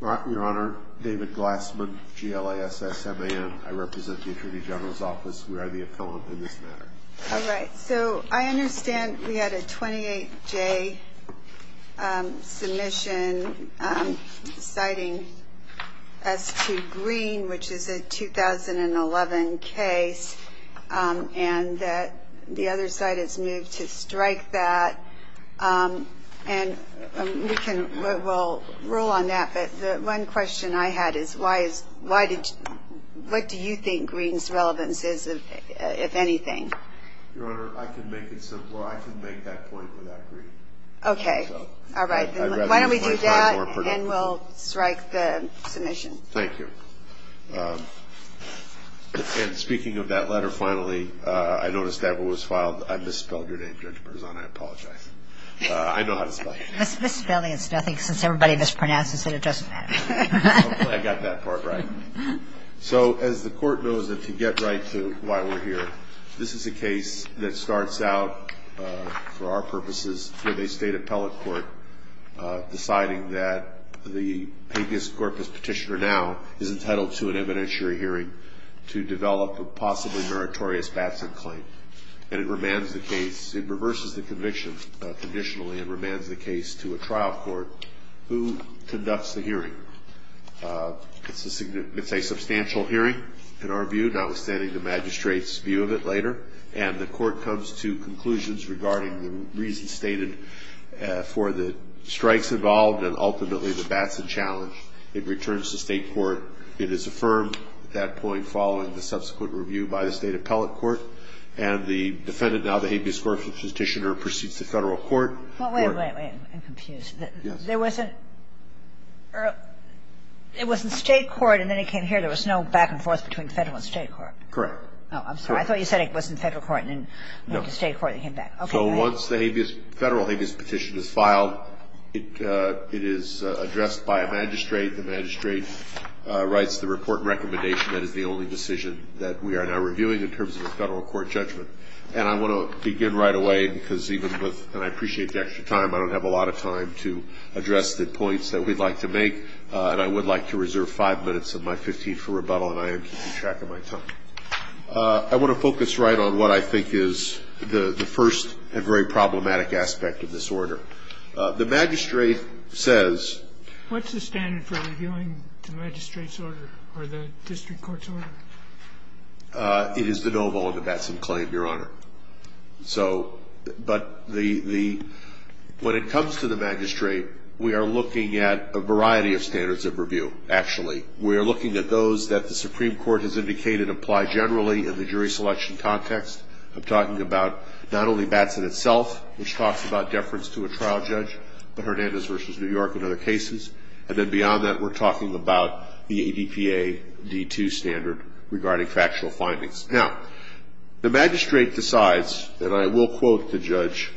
Your Honor, David Glassman, GLASSMAN. I represent the Attorney General's Office. We are the appellant in this matter. All right. So I understand we had a 28-J submission citing S2 Green, which is a 2011 case, and that the other side has moved to strike that. And we'll rule on that, but the one question I had is, what do you think Green's relevance is, if anything? Your Honor, I can make it simpler. I can make that point without Green. Okay. All right. Then why don't we do that, and we'll strike the submission. Thank you. And speaking of that letter, finally, I noticed that it was filed. I misspelled your name, Judge Berzon. I apologize. I know how to spell your name. Misspelling is nothing, since everybody mispronounces it. It doesn't matter. Hopefully I got that part right. So as the Court knows, and to get right to why we're here, this is a case that starts out, for our purposes, with a State appellate court deciding that the papius corpus petitioner now is entitled to an evidentiary hearing to develop a possibly meritorious Batson claim. And it reverses the conviction conditionally and remands the case to a trial court who conducts the hearing. It's a substantial hearing, in our view, notwithstanding the magistrate's view of it later, and the Court comes to conclusions regarding the reasons stated for the strikes involved and ultimately the Batson challenge. It returns to State court. It is affirmed at that point, following the subsequent review by the State appellate court, and the defendant, now the papius corpus petitioner, proceeds to Federal court. Well, wait, wait, wait. I'm confused. Yes. There wasn't or it was in State court, and then it came here. There was no back and forth between Federal and State court. Correct. Oh, I'm sorry. I thought you said it was in Federal court. No. It was in State court, and then it came back. Okay. So once the habeas, Federal habeas petition is filed, it is addressed by a magistrate. The magistrate writes the report and recommendation. That is the only decision that we are now reviewing in terms of a Federal court judgment. And I want to begin right away, because even with, and I appreciate the extra time, I don't have a lot of time to address the points that we'd like to make. And I would like to reserve five minutes of my 15th for rebuttal, and I am keeping track of my time. I want to focus right on what I think is the first and very problematic aspect of this order. The magistrate says. What's the standard for reviewing the magistrate's order or the district court's order? It is the no-voluntabatsen claim, Your Honor. So, but the, when it comes to the magistrate, we are looking at a variety of standards of review, actually. We are looking at those that the Supreme Court has indicated apply generally in the jury selection context. I'm talking about not only Batson itself, which talks about deference to a trial judge, but Hernandez v. New York and other cases. And then beyond that, we're talking about the ADPA D2 standard regarding factual findings. Now, the magistrate decides, and I will quote the judge.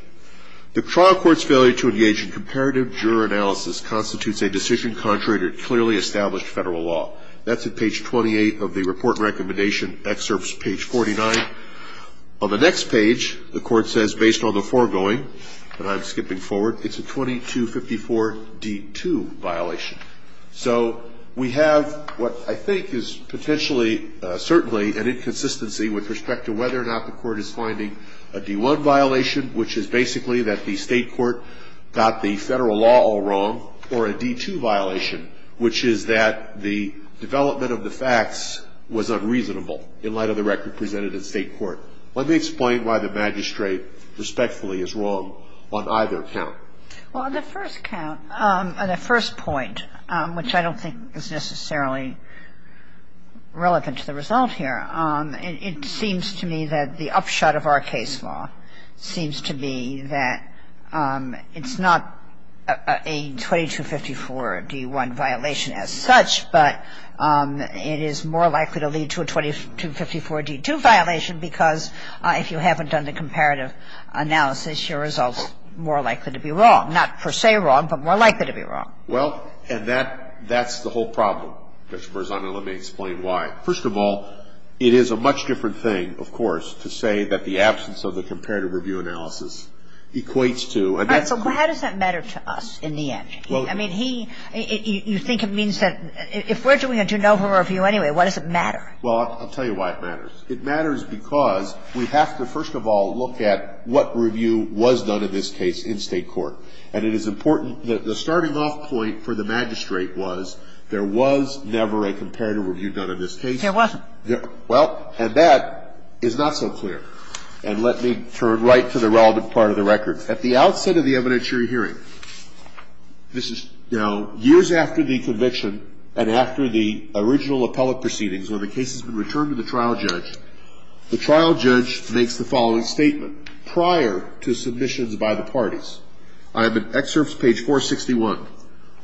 The trial court's failure to engage in comparative juror analysis constitutes a decision contrary to clearly established federal law. That's at page 28 of the report recommendation excerpts, page 49. On the next page, the court says, based on the foregoing, and I'm skipping forward, it's a 2254 D2 violation. So we have what I think is potentially certainly an inconsistency with respect to whether or not the court is finding a D1 violation, which is basically that the state court got the federal law all wrong, or a D2 violation, which is that the development of the facts was unreasonable in light of the record presented in state court. Let me explain why the magistrate respectfully is wrong on either count. Well, on the first count, on the first point, which I don't think is necessarily relevant to the result here, it seems to me that the upshot of our case law seems to be that it's not a 2254 D1 violation as such, but it is more likely to lead to a 2254 D2 violation because if you haven't done the comparative analysis, your result's more likely to be wrong. Not per se wrong, but more likely to be wrong. Well, and that's the whole problem, Judge Berzano. Let me explain why. First of all, it is a much different thing, of course, to say that the absence of the comparative review analysis equates to. All right. So how does that matter to us in the end? I mean, he you think it means that if we're doing a de novo review anyway, why does it matter? Well, I'll tell you why it matters. It matters because we have to first of all look at what review was done in this case in state court. And it is important that the starting off point for the magistrate was there was never a comparative review done in this case. There wasn't. Well, and that is not so clear. And let me turn right to the relevant part of the record. At the outset of the evidentiary hearing, this is now years after the conviction and after the original appellate proceedings when the case has been returned to the trial judge, the trial judge makes the following statement prior to submissions by the parties. I have in excerpts page 461.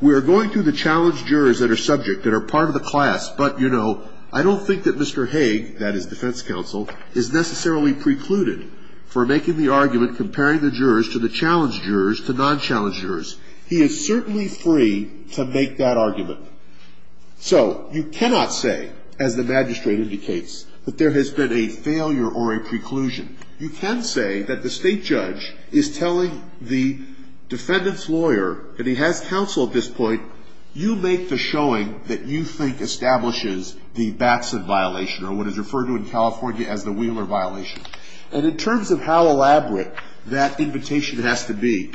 We are going to the challenged jurors that are subject, that are part of the class. But, you know, I don't think that Mr. Haig, that is defense counsel, is necessarily precluded for making the argument comparing the jurors to the challenged jurors to non-challenged jurors. He is certainly free to make that argument. So you cannot say, as the magistrate indicates, that there has been a failure or a preclusion. You can say that the state judge is telling the defendant's lawyer, and he has counsel at this point, you make the showing that you think establishes the Batson violation or what is referred to in California as the Wheeler violation. And in terms of how elaborate that invitation has to be,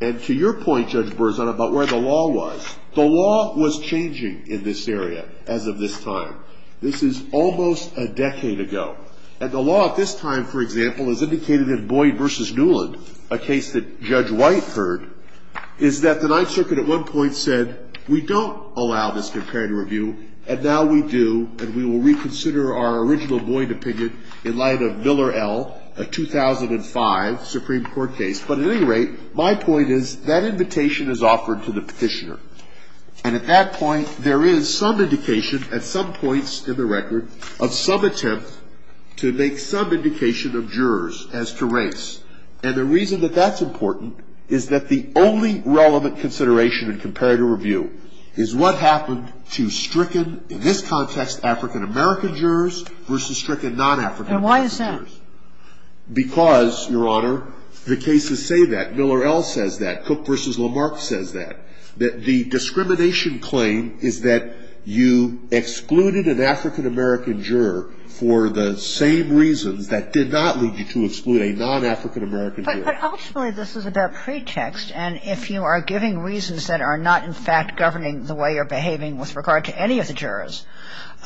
and to your point, Judge Berzon, about where the law was, the law was changing in this area as of this time. This is almost a decade ago. And the law at this time, for example, is indicated in Boyd v. Newland, a case that Judge White heard, is that the Ninth Circuit at one point said, we don't allow this comparative review, and now we do, and we will reconsider our original Boyd opinion in light of Miller L., a 2005 Supreme Court case. But at any rate, my point is that invitation is offered to the Petitioner. And at that point, there is some indication at some points in the record of some attempt to make some indication of jurors as to race. And the reason that that's important is that the only relevant consideration in comparative review is what happened to stricken, in this context, African-American jurors versus stricken non-African-American jurors. And why is that? Because, Your Honor, the cases say that. Miller L. says that. Cook v. Lamarck says that. The discrimination claim is that you excluded an African-American juror for the same reasons that did not lead you to exclude a non-African-American juror. But ultimately, this is about pretext. And if you are giving reasons that are not, in fact, governing the way you're behaving with regard to any of the jurors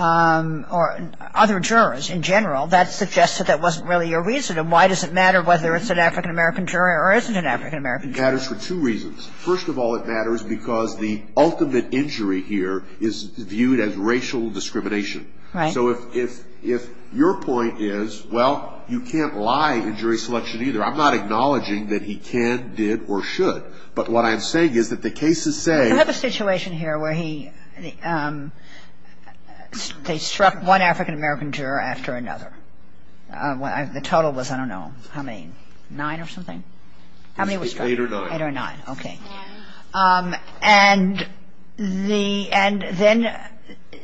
or other jurors in general, that suggests that that wasn't really your reason. And why does it matter whether it's an African-American juror or isn't an African-American It matters for two reasons. First of all, it matters because the ultimate injury here is viewed as racial discrimination. Right. So if your point is, well, you can't lie in jury selection either. I'm not acknowledging that he can, did, or should. But what I'm saying is that the cases say. I have a situation here where he, they struck one African-American juror after another. The total was, I don't know, how many, nine or something? Eight or nine. Eight or nine. Okay. And then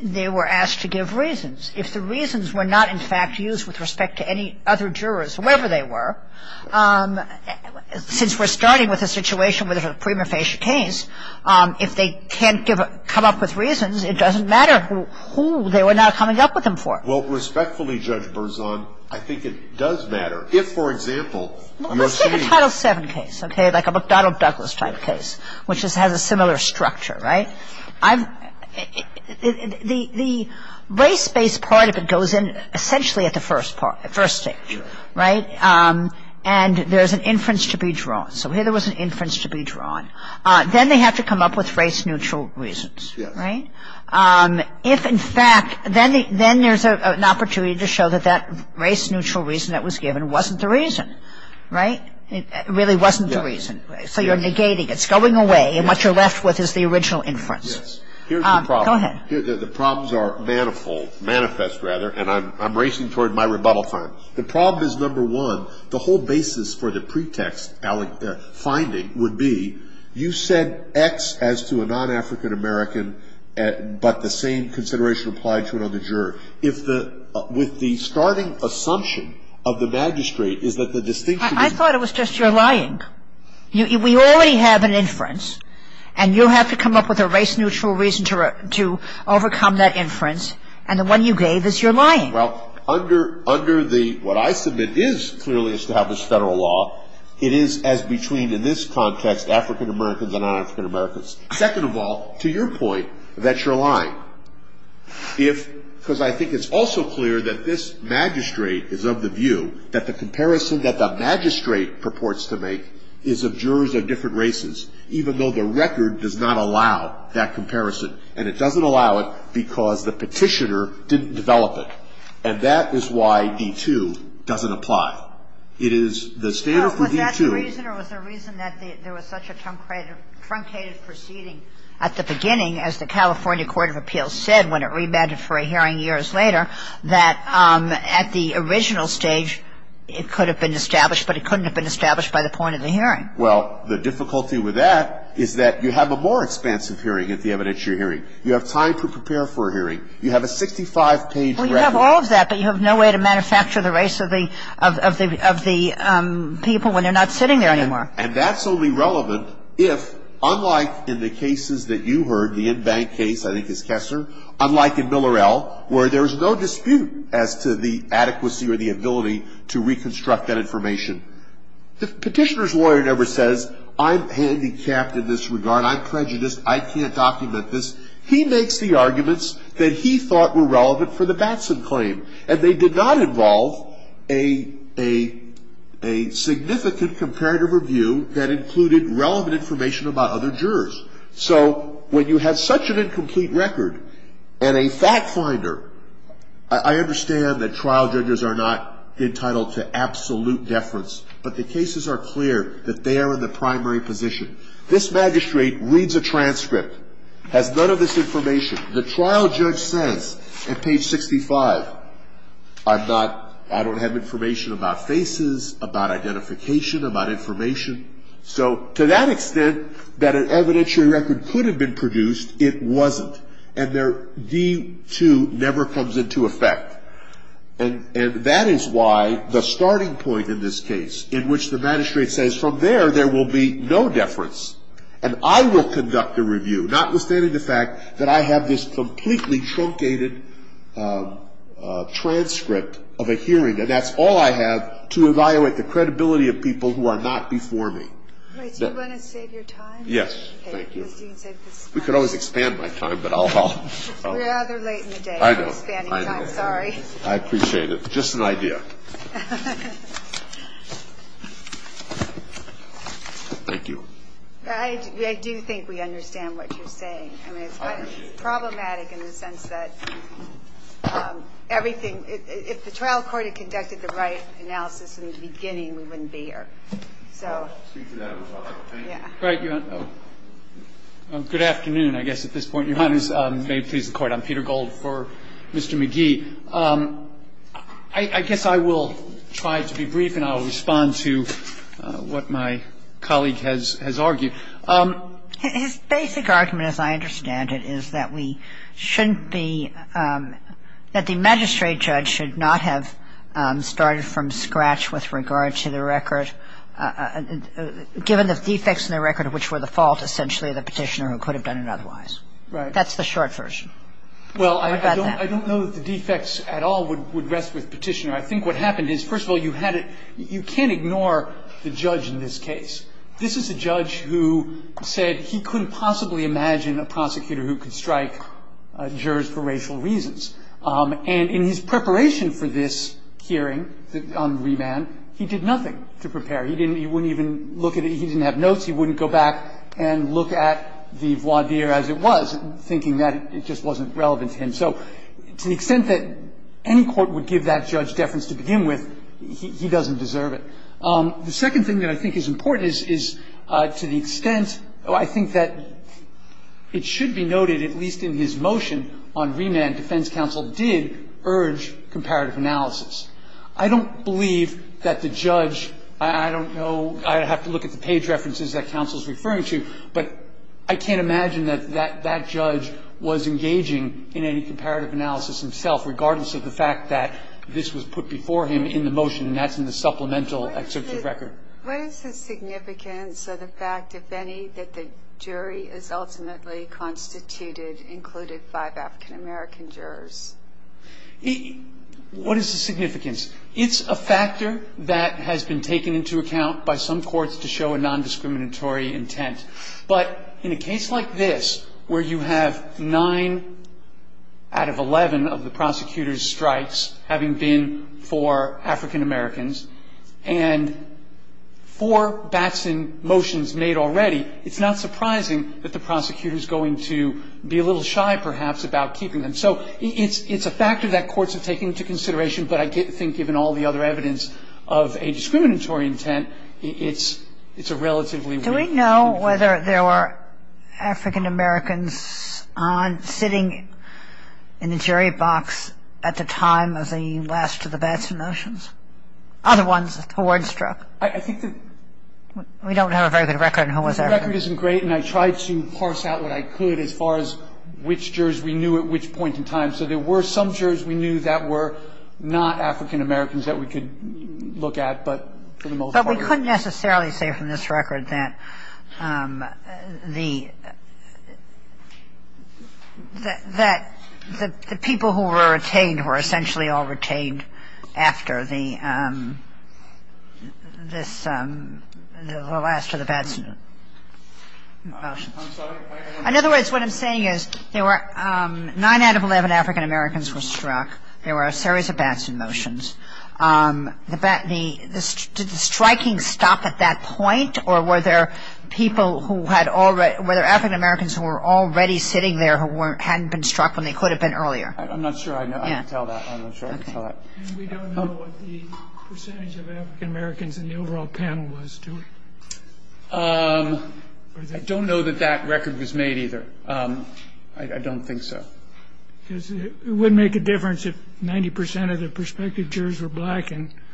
they were asked to give reasons. If the reasons were not, in fact, used with respect to any other jurors, whoever they were, since we're starting with a situation where there's a prima facie case, if they can't come up with reasons, it doesn't matter who they were not coming up with them for. Well, respectfully, Judge Berzon, I think it does matter. If, for example. Well, let's take a Title VII case, okay, like a McDonnell-Douglas-type case, which has a similar structure, right? The race-based part of it goes in essentially at the first stage, right? And there's an inference to be drawn. So here there was an inference to be drawn. Then they have to come up with race-neutral reasons, right? If, in fact, then there's an opportunity to show that that race-neutral reason that was given wasn't the reason. Right? It really wasn't the reason. So you're negating. It's going away. And what you're left with is the original inference. Go ahead. Here's the problem. The problems are manifold, manifest rather, and I'm racing toward my rebuttal time. The problem is, number one, the whole basis for the pretext finding would be you said X as to a non-African American, but the same consideration applied to another juror. If the ‑‑ with the starting assumption of the magistrate is that the distinction is ‑‑ I thought it was just you're lying. We already have an inference, and you have to come up with a race-neutral reason to overcome that inference. And the one you gave is you're lying. Well, under the ‑‑ what I submit is clearly is to have this Federal law, it is as between in this context African Americans and non-African Americans. Second of all, to your point that you're lying. If ‑‑ because I think it's also clear that this magistrate is of the view that the comparison that the magistrate purports to make is of jurors of different races, even though the record does not allow that comparison. And it doesn't allow it because the petitioner didn't develop it. And that is why D2 doesn't apply. It is the standard for D2 ‑‑ Was that the reason or was there a reason that there was such a truncated proceeding at the beginning as the California Court of Appeals said when it rebounded for a hearing years later that at the original stage it could have been established, but it couldn't have been established by the point of the hearing? Well, the difficulty with that is that you have a more expansive hearing at the evidence you're hearing. You have time to prepare for a hearing. You have a 65‑page record. Well, you have all of that, but you have no way to manufacture the race of the people when they're not sitting there anymore. And that's only relevant if, unlike in the cases that you heard, the in‑bank case, I think it's Kessler, unlike in Miller L., where there's no dispute as to the adequacy or the ability to reconstruct that information. The petitioner's lawyer never says, I'm handicapped in this regard, I'm prejudiced, I can't document this. He makes the arguments that he thought were relevant for the Batson claim. And they did not involve a significant comparative review that included relevant information about other jurors. So when you have such an incomplete record and a fact finder, I understand that trial judges are not entitled to absolute deference, but the cases are clear that they are in the primary position. This magistrate reads a transcript, has none of this information. The trial judge says at page 65, I'm not, I don't have information about faces, about identification, about information. So to that extent that an evidentiary record could have been produced, it wasn't. And their D2 never comes into effect. And that is why the starting point in this case, in which the magistrate says from there, there will be no deference, and I will conduct a review, notwithstanding the fact that I have this completely truncated transcript of a hearing, and that's all I have to evaluate the credibility of people who are not before me. Do you want to save your time? Yes. Thank you. We could always expand my time, but I'll... We're rather late in the day. I know. I'm sorry. I appreciate it. Just an idea. Thank you. I do think we understand what you're saying. I mean, it's problematic in the sense that everything, if the trial court had conducted the right analysis in the beginning, we wouldn't be here. So... I'll speak to that as well. Thank you. All right. Your Honor. Good afternoon, I guess, at this point. Your Honor, may it please the Court. I'm Peter Gold for Mr. McGee. I guess I will try to be brief, and I'll respond to what my colleague has argued. His basic argument, as I understand it, is that we shouldn't be – that the magistrate judge should not have started from scratch with regard to the record, given the defects in the record, which were the fault, essentially, of the Petitioner, who could have done it otherwise. Right. That's the short version. I think what happened is, first of all, you can't ignore the judge in this case. This is a judge who said he couldn't possibly imagine a prosecutor who could strike jurors for racial reasons. And in his preparation for this hearing on remand, he did nothing to prepare. He didn't even look at it. He didn't have notes. He wouldn't go back and look at the voir dire as it was, thinking that it just wasn't relevant to him. So to the extent that any court would give that judge deference to begin with, he doesn't deserve it. The second thing that I think is important is, to the extent – I think that it should be noted, at least in his motion on remand, defense counsel did urge comparative analysis. I don't believe that the judge – I don't know. I'd have to look at the page references that counsel is referring to. But I can't imagine that that judge was engaging in any comparative analysis himself, regardless of the fact that this was put before him in the motion, and that's in the supplemental excerpt of record. What is the significance of the fact, if any, that the jury is ultimately constituted, included five African-American jurors? What is the significance? It's a factor that has been taken into account by some courts to show a nondiscriminatory intent. But in a case like this, where you have nine out of 11 of the prosecutor's strikes having been for African-Americans, and four Batson motions made already, it's not surprising that the prosecutor is going to be a little shy, perhaps, about keeping them. So it's a factor that courts have taken into consideration, but I think given all the other evidence of a discriminatory intent, it's a relatively weak situation. Do we know whether there were African-Americans sitting in the jury box at the time of the last of the Batson motions? Other ones who weren't struck? I think that – We don't have a very good record on who was there. My record isn't great, and I tried to parse out what I could as far as which jurors we knew at which point in time. So there were some jurors we knew that were not African-Americans that we could look at. But for the most part, we don't. But we couldn't necessarily say from this record that the people who were retained were essentially all retained after the last of the Batson motions. In other words, what I'm saying is nine out of 11 African-Americans were struck. There were a series of Batson motions. Did the striking stop at that point, or were there people who had already – were there African-Americans who were already sitting there who hadn't been struck when they could have been earlier? I'm not sure I can tell that. I'm not sure I can tell that. Okay. And we don't know what the percentage of African-Americans in the overall panel was, do we? I don't know that that record was made either. I don't think so. Because it wouldn't make a difference if 90 percent of the prospective jurors were black and –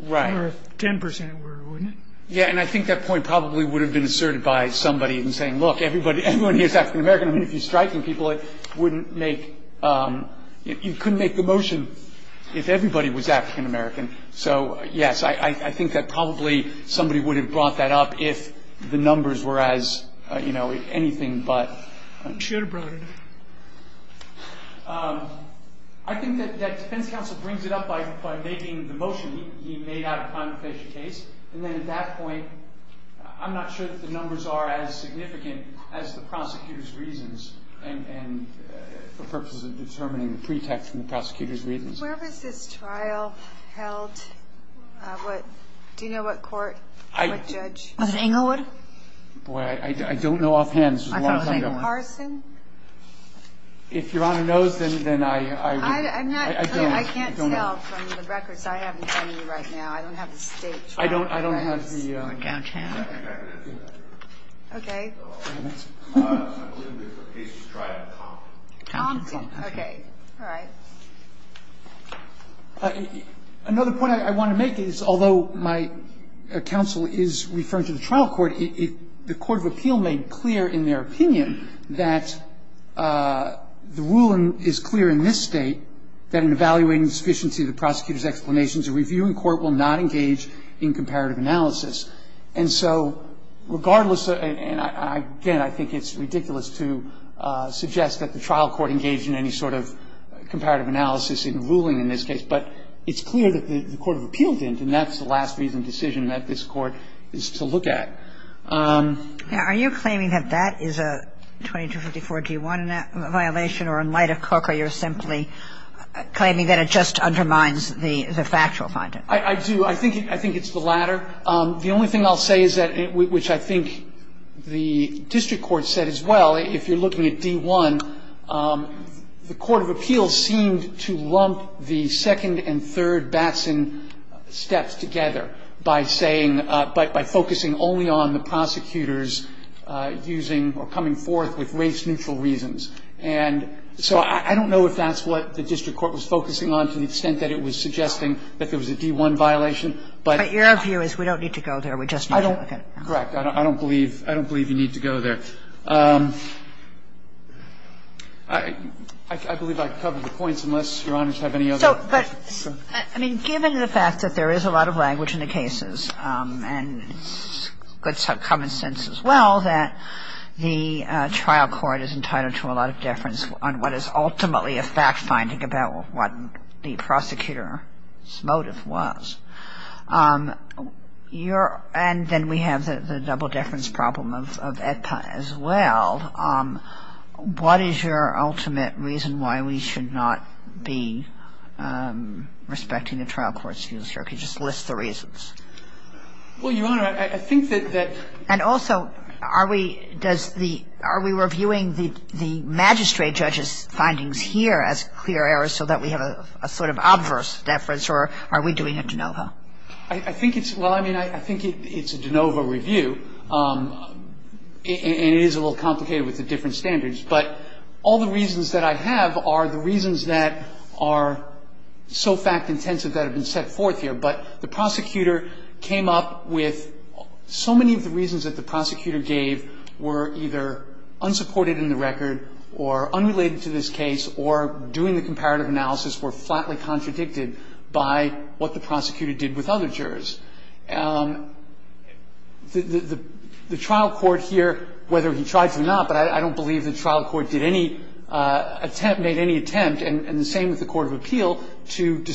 Right. Or if 10 percent were, wouldn't it? Yeah, and I think that point probably would have been asserted by somebody in saying, look, everyone here is African-American. I mean, if you're striking people, it wouldn't make – you couldn't make the motion if everybody was African-American. So, yes, I think that probably somebody would have brought that up if the numbers were as, you know, anything but. You should have brought it up. I think that defense counsel brings it up by making the motion he made out of time to finish the case. And then at that point, I'm not sure that the numbers are as significant as the prosecutor's reasons and for purposes of determining the pretext from the prosecutor's reasons. Where was this trial held? Do you know what court, what judge? Was it Englewood? Boy, I don't know offhand. This was a long time ago. I thought it was Englewood. Carson? If Your Honor knows, then I would – I'm not – I can't tell from the records. I haven't any right now. I don't have the states. I don't have the – Okay. Okay. All right. Another point I want to make is, although my counsel is referring to the trial court, the court of appeal made clear in their opinion that the rule is clear in this State that in evaluating the sufficiency of the prosecutor's explanations, a reviewing court will not engage in comparative analysis. And so regardless – and again, I think it's ridiculous to suggest that the trial court engaged in any sort of comparative analysis in ruling in this case, but it's clear that the court of appeal didn't, and that's the last reason decision that this Court is to look at. Now, are you claiming that that is a 2254-G1 violation, or in light of Cook, you're simply claiming that it just undermines the factual finding? I do. I think it's the latter. The only thing I'll say is that – which I think the district court said as well, if you're looking at D1, the court of appeal seemed to lump the second and third Batson steps together by saying – by focusing only on the prosecutors using or coming forth with race-neutral reasons. And so I don't know if that's what the district court was focusing on to the extent that it was suggesting that there was a D1 violation, but – But your view is we don't need to go there. We just need to look at – Correct. I don't believe – I don't believe you need to go there. I believe I've covered the points, unless Your Honors have any other questions. So, but, I mean, given the fact that there is a lot of language in the cases, and good common sense as well, that the trial court is entitled to a lot of deference on what is ultimately a fact-finding about what the prosecutor's motive was. Your – and then we have the double-deference problem of AEDPA as well. What is your ultimate reason why we should not be respecting the trial court's views? Well, Your Honor, I think that – And also, are we – does the – are we reviewing the magistrate judge's findings here as clear errors so that we have a sort of obverse deference, or are we doing a de novo? I think it's – well, I mean, I think it's a de novo review, and it is a little complicated with the different standards. But all the reasons that I have are the reasons that are so fact-intensive that have been set forth here, but the prosecutor came up with – so many of the reasons that the prosecutor gave were either unsupported in the record or unrelated to this case or, doing the comparative analysis, were flatly contradicted by what the prosecutor did with other jurors. The trial court here, whether he tried to or not, but I don't believe the trial court did any attempt – I don't believe the trial court did any attempt to or did not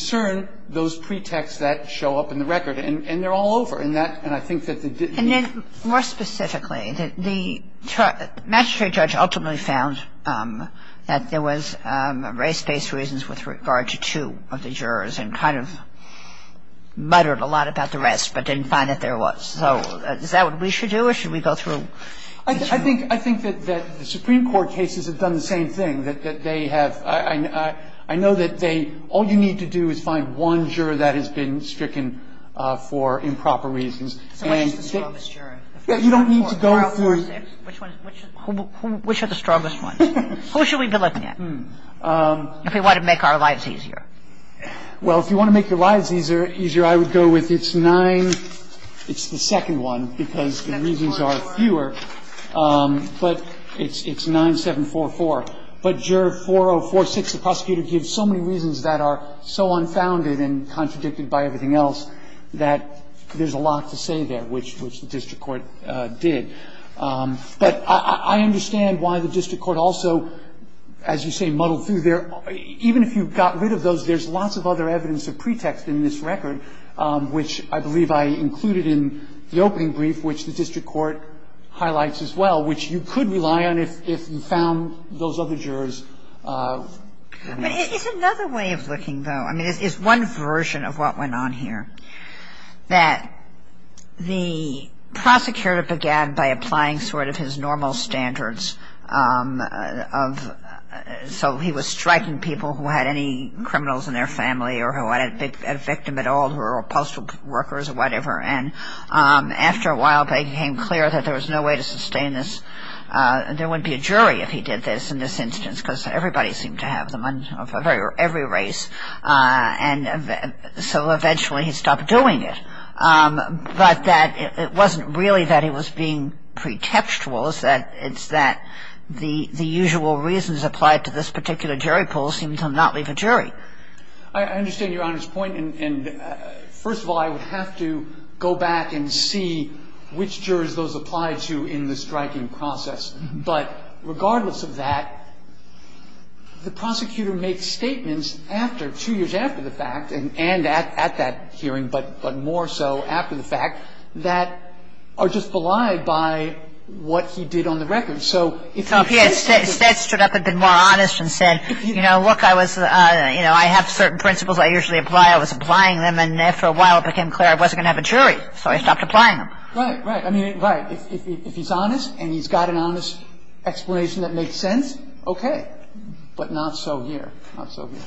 try to find those pretexts that show up in the record. And they're all over, and that – and I think that the – And then more specifically, the magistrate judge ultimately found that there was race-based reasons with regard to two of the jurors and kind of muttered a lot about the rest but didn't find that there was. So is that what we should do, or should we go through the two? I think that the Supreme Court cases have done the same thing, that they have – I know that they – all you need to do is find one juror that has been stricken for improper reasons. So which is the strongest juror? You don't need to go through – Which are the strongest ones? Who should we be looking at if we want to make our lives easier? Well, if you want to make your lives easier, I would go with it's nine – it's the second one because the reasons are fewer. But it's 9744. But juror 4046, the prosecutor, gives so many reasons that are so unfounded and contradicted by everything else that there's a lot to say there, which the district court did. But I understand why the district court also, as you say, muddled through there. Even if you got rid of those, there's lots of other evidence of pretext in this record, which I believe I included in the opening brief, which the district court highlights as well, which you could rely on if you found those other jurors. But it's another way of looking, though. I mean, it's one version of what went on here, that the prosecutor began by applying sort of his normal standards of – of a jury pool or postal workers or whatever. And after a while, it became clear that there was no way to sustain this. There wouldn't be a jury if he did this in this instance because everybody seemed to have them, every race. And so eventually he stopped doing it. But that – it wasn't really that he was being pretextual. It's that the usual reasons applied to this particular jury pool seemed to not leave a jury. I understand Your Honor's point. And first of all, I would have to go back and see which jurors those apply to in the striking process. But regardless of that, the prosecutor makes statements after – two years after the fact and at that hearing, but more so after the fact, that are just belied by what he did on the record. So if he says that – So if he had stood up a bit more honest and said, you know, look, I was – you know, I have certain principles I usually apply. I was applying them. And after a while, it became clear I wasn't going to have a jury. So I stopped applying them. Right. Right. I mean, right. If he's honest and he's got an honest explanation that makes sense, okay. But not so here. Not so here.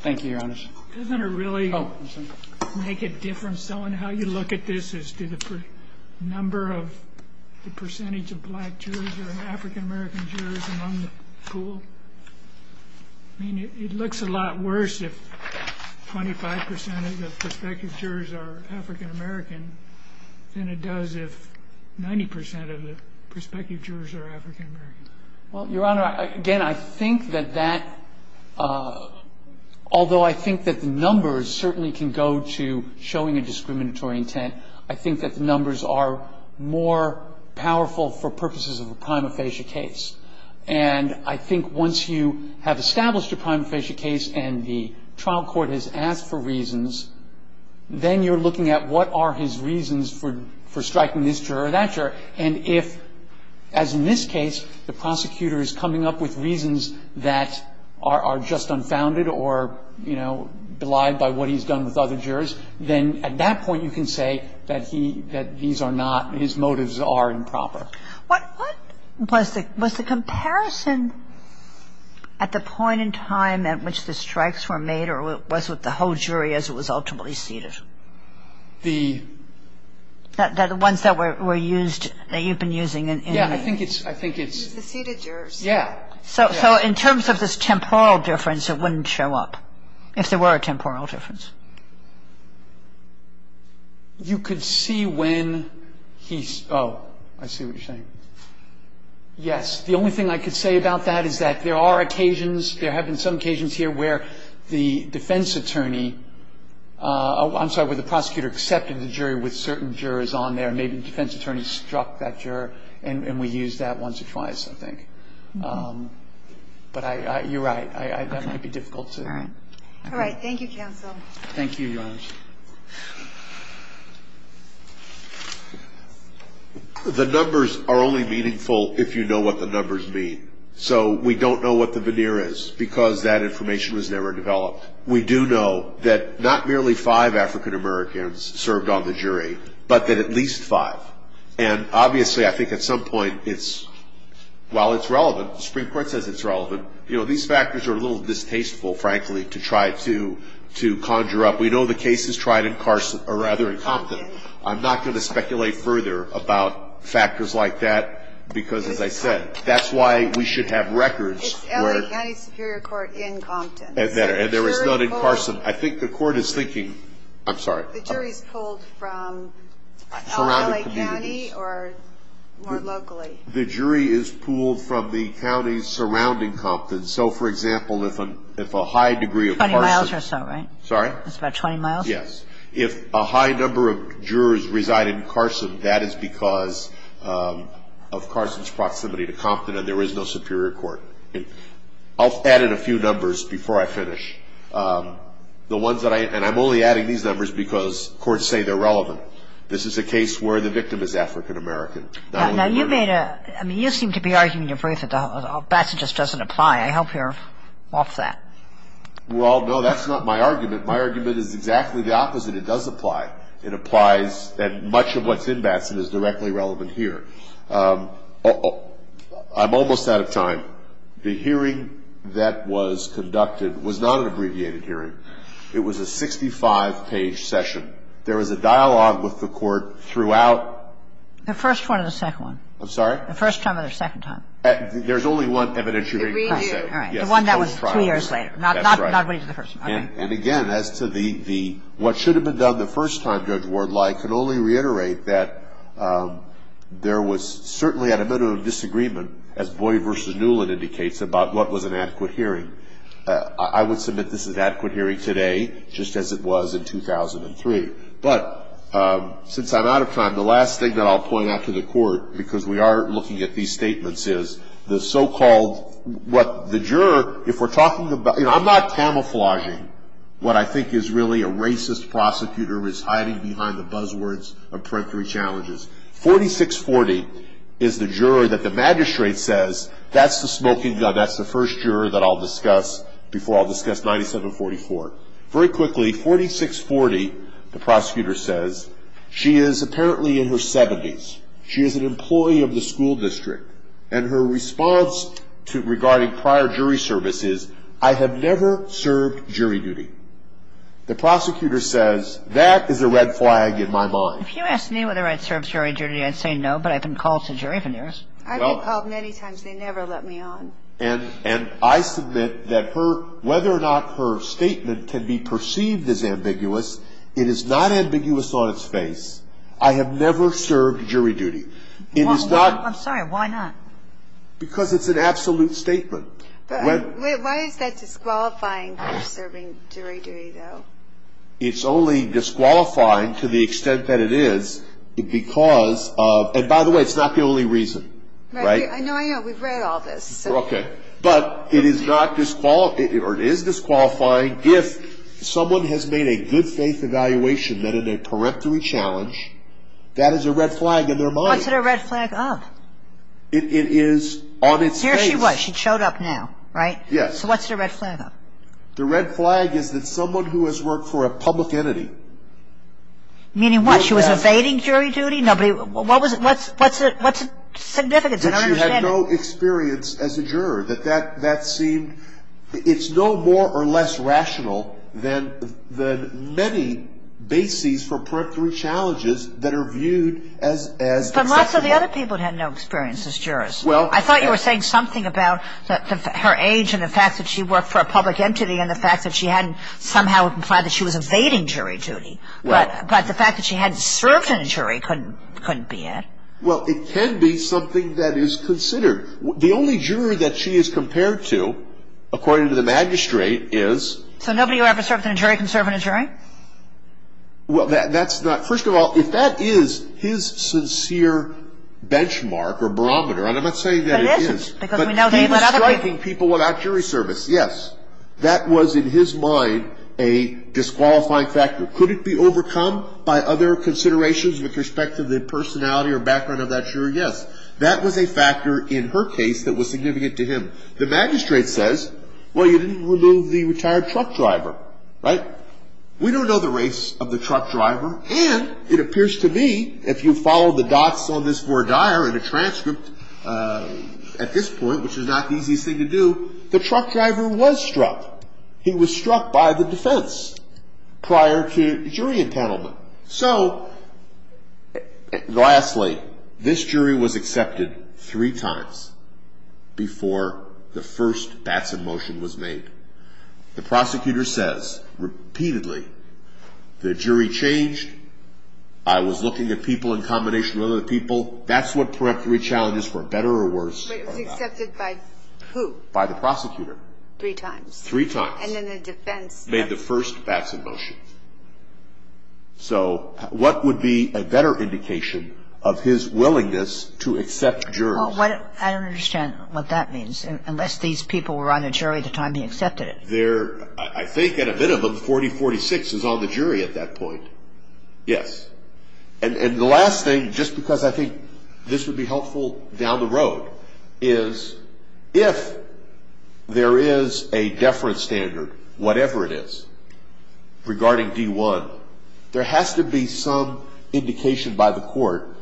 Thank you, Your Honor. Doesn't it really make a difference on how you look at this as to the number of – the percentage of black jurors or African-American jurors among the pool? I mean, it looks a lot worse if 25 percent of the prospective jurors are African-American than it does if 90 percent of the prospective jurors are African-American. Well, Your Honor, again, I think that that – although I think that the numbers certainly can go to showing a discriminatory intent, I think that the numbers are more powerful for purposes of a prima facie case. And I think once you have established a prima facie case and the trial court has asked for reasons, then you're looking at what are his reasons for striking this juror or that juror. And if, as in this case, the prosecutor is coming up with reasons that are just unfounded or, you know, belied by what he's done with other jurors, then at that point you can say that he – that these are not – his motives are improper. What was the comparison at the point in time at which the strikes were made or was it the whole jury as it was ultimately seated? The – The ones that were used – that you've been using in – Yeah. I think it's – I think it's – The seated jurors. Yeah. So in terms of this temporal difference, it wouldn't show up, if there were a temporal difference. You could see when he – oh, I see what you're saying. Yes. The only thing I could say about that is that there are occasions – there have been some occasions here where the defense attorney – I'm sorry, where the prosecutor accepted the jury with certain jurors on there. Maybe the defense attorney struck that juror and we used that once or twice, I think. But I – you're right. Okay. That might be difficult to – All right. All right. Thank you, counsel. Thank you, Your Honor. The numbers are only meaningful if you know what the numbers mean. So we don't know what the veneer is because that information was never developed. We do know that not merely five African-Americans served on the jury, but that at least five. And, obviously, I think at some point it's – while it's relevant, the Supreme Court says it's relevant, you know, these factors are a little distasteful, frankly, to try to conjure up. We know the case is tried in Carson – or rather in Compton. Compton. I'm not going to speculate further about factors like that because, as I said, that's why we should have records where – It's LA County Superior Court in Compton. And there is none in Carson. I think the court is thinking – I'm sorry. The jury is pulled from LA County or more locally. The jury is pulled from the counties surrounding Compton. So, for example, if a high degree of Carson – 20 miles or so, right? Sorry? That's about 20 miles? Yes. If a high number of jurors reside in Carson, that is because of Carson's proximity to Compton and there is no Superior Court. I'll add in a few numbers before I finish. The ones that I – and I'm only adding these numbers because courts say they're relevant. This is a case where the victim is African American. Now, you made a – I mean, you seem to be arguing in your brief that Batson just doesn't apply. I hope you're off that. Well, no, that's not my argument. My argument is exactly the opposite. It does apply. It applies – and much of what's in Batson is directly relevant here. I'm almost out of time. The hearing that was conducted was not an abbreviated hearing. It was a 65-page session. There was a dialogue with the Court throughout – The first one or the second one? I'm sorry? The first time or the second time? There's only one evidentiary case. All right. The one that was two years later. That's right. Not the first one. And, again, as to the – what should have been done the first time, Judge Ward, I can only reiterate that there was certainly at a minimum disagreement, as Boyd v. Newland indicates, about what was an adequate hearing. I would submit this is an adequate hearing today, just as it was in 2003. But since I'm out of time, the last thing that I'll point out to the Court, because we are looking at these statements, is the so-called – what the juror, if we're talking about – you know, I'm not camouflaging what I think is really a racist prosecutor who is hiding behind the buzzwords of peremptory challenges. 4640 is the juror that the magistrate says, that's the smoking gun, that's the first juror that I'll discuss before I'll discuss 9744. Very quickly, 4640, the prosecutor says, she is apparently in her 70s. She is an employee of the school district. And her response regarding prior jury service is, I have never served jury duty. The prosecutor says, that is a red flag in my mind. If you asked me whether I'd served jury duty, I'd say no, but I've been called to jury for years. I've been called many times. They never let me on. And I submit that whether or not her statement can be perceived as ambiguous, it is not ambiguous on its face. I have never served jury duty. I'm sorry, why not? Because it's an absolute statement. Why is that disqualifying for serving jury duty, though? It's only disqualifying to the extent that it is because of, and by the way, it's not the only reason. I know, I know, we've read all this. Okay. But it is disqualifying if someone has made a good faith evaluation that in a peremptory challenge, that is a red flag in their mind. It is on its face. Well, here she was. She showed up now, right? Yes. So what's the red flag of? The red flag is that someone who has worked for a public entity. Meaning what? She was evading jury duty? What's the significance in our understanding? That she had no experience as a juror, that that seemed, it's no more or less rational than the many bases for peremptory challenges that are viewed as acceptable. But lots of the other people had no experience as jurors. I thought you were saying something about her age and the fact that she worked for a public entity and the fact that she hadn't somehow implied that she was evading jury duty. But the fact that she hadn't served in a jury couldn't be it. Well, it can be something that is considered. The only juror that she is compared to, according to the magistrate, is? So nobody who ever served in a jury can serve in a jury? Well, that's not, first of all, if that is his sincere benchmark or barometer, and I'm not saying that it is. But it isn't. But he was striking people without jury service, yes. That was in his mind a disqualifying factor. Could it be overcome by other considerations with respect to the personality or background of that juror? Yes. That was a factor in her case that was significant to him. The magistrate says, well, you didn't remove the retired truck driver, right? We don't know the race of the truck driver, and it appears to me, if you follow the dots on this four dire in the transcript at this point, which is not the easiest thing to do, the truck driver was struck. He was struck by the defense prior to jury enpanelment. So, lastly, this jury was accepted three times before the first Batson motion was made. The prosecutor says, repeatedly, the jury changed. I was looking at people in combination with other people. That's what preemptory challenges were, better or worse. But it was accepted by who? By the prosecutor. Three times. Three times. And then the defense. Made the first Batson motion. So what would be a better indication of his willingness to accept jurors? I don't understand what that means, unless these people were on the jury at the time he accepted it. I think, at a minimum, 4046 is on the jury at that point. Yes. And the last thing, just because I think this would be helpful down the road, is if there is a deference standard, whatever it is, regarding D1, there has to be some indication by the court.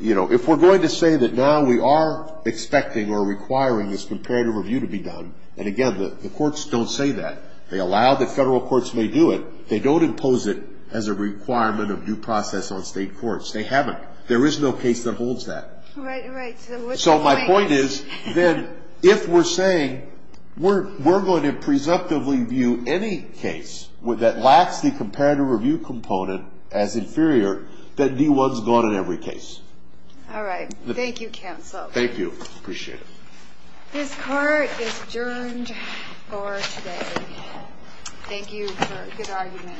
You know, if we're going to say that now we are expecting or requiring this comparative review to be done, and, again, the courts don't say that. They allow that federal courts may do it. They don't impose it as a requirement of due process on state courts. They haven't. There is no case that holds that. Right, right. So what's the point? So my point is, then, if we're saying we're going to presumptively view any case that lacks the comparative review component as inferior, that D1 is gone in every case. All right. Thank you, counsel. Thank you. Appreciate it. This court is adjourned for today. Thank you for a good argument, both of you.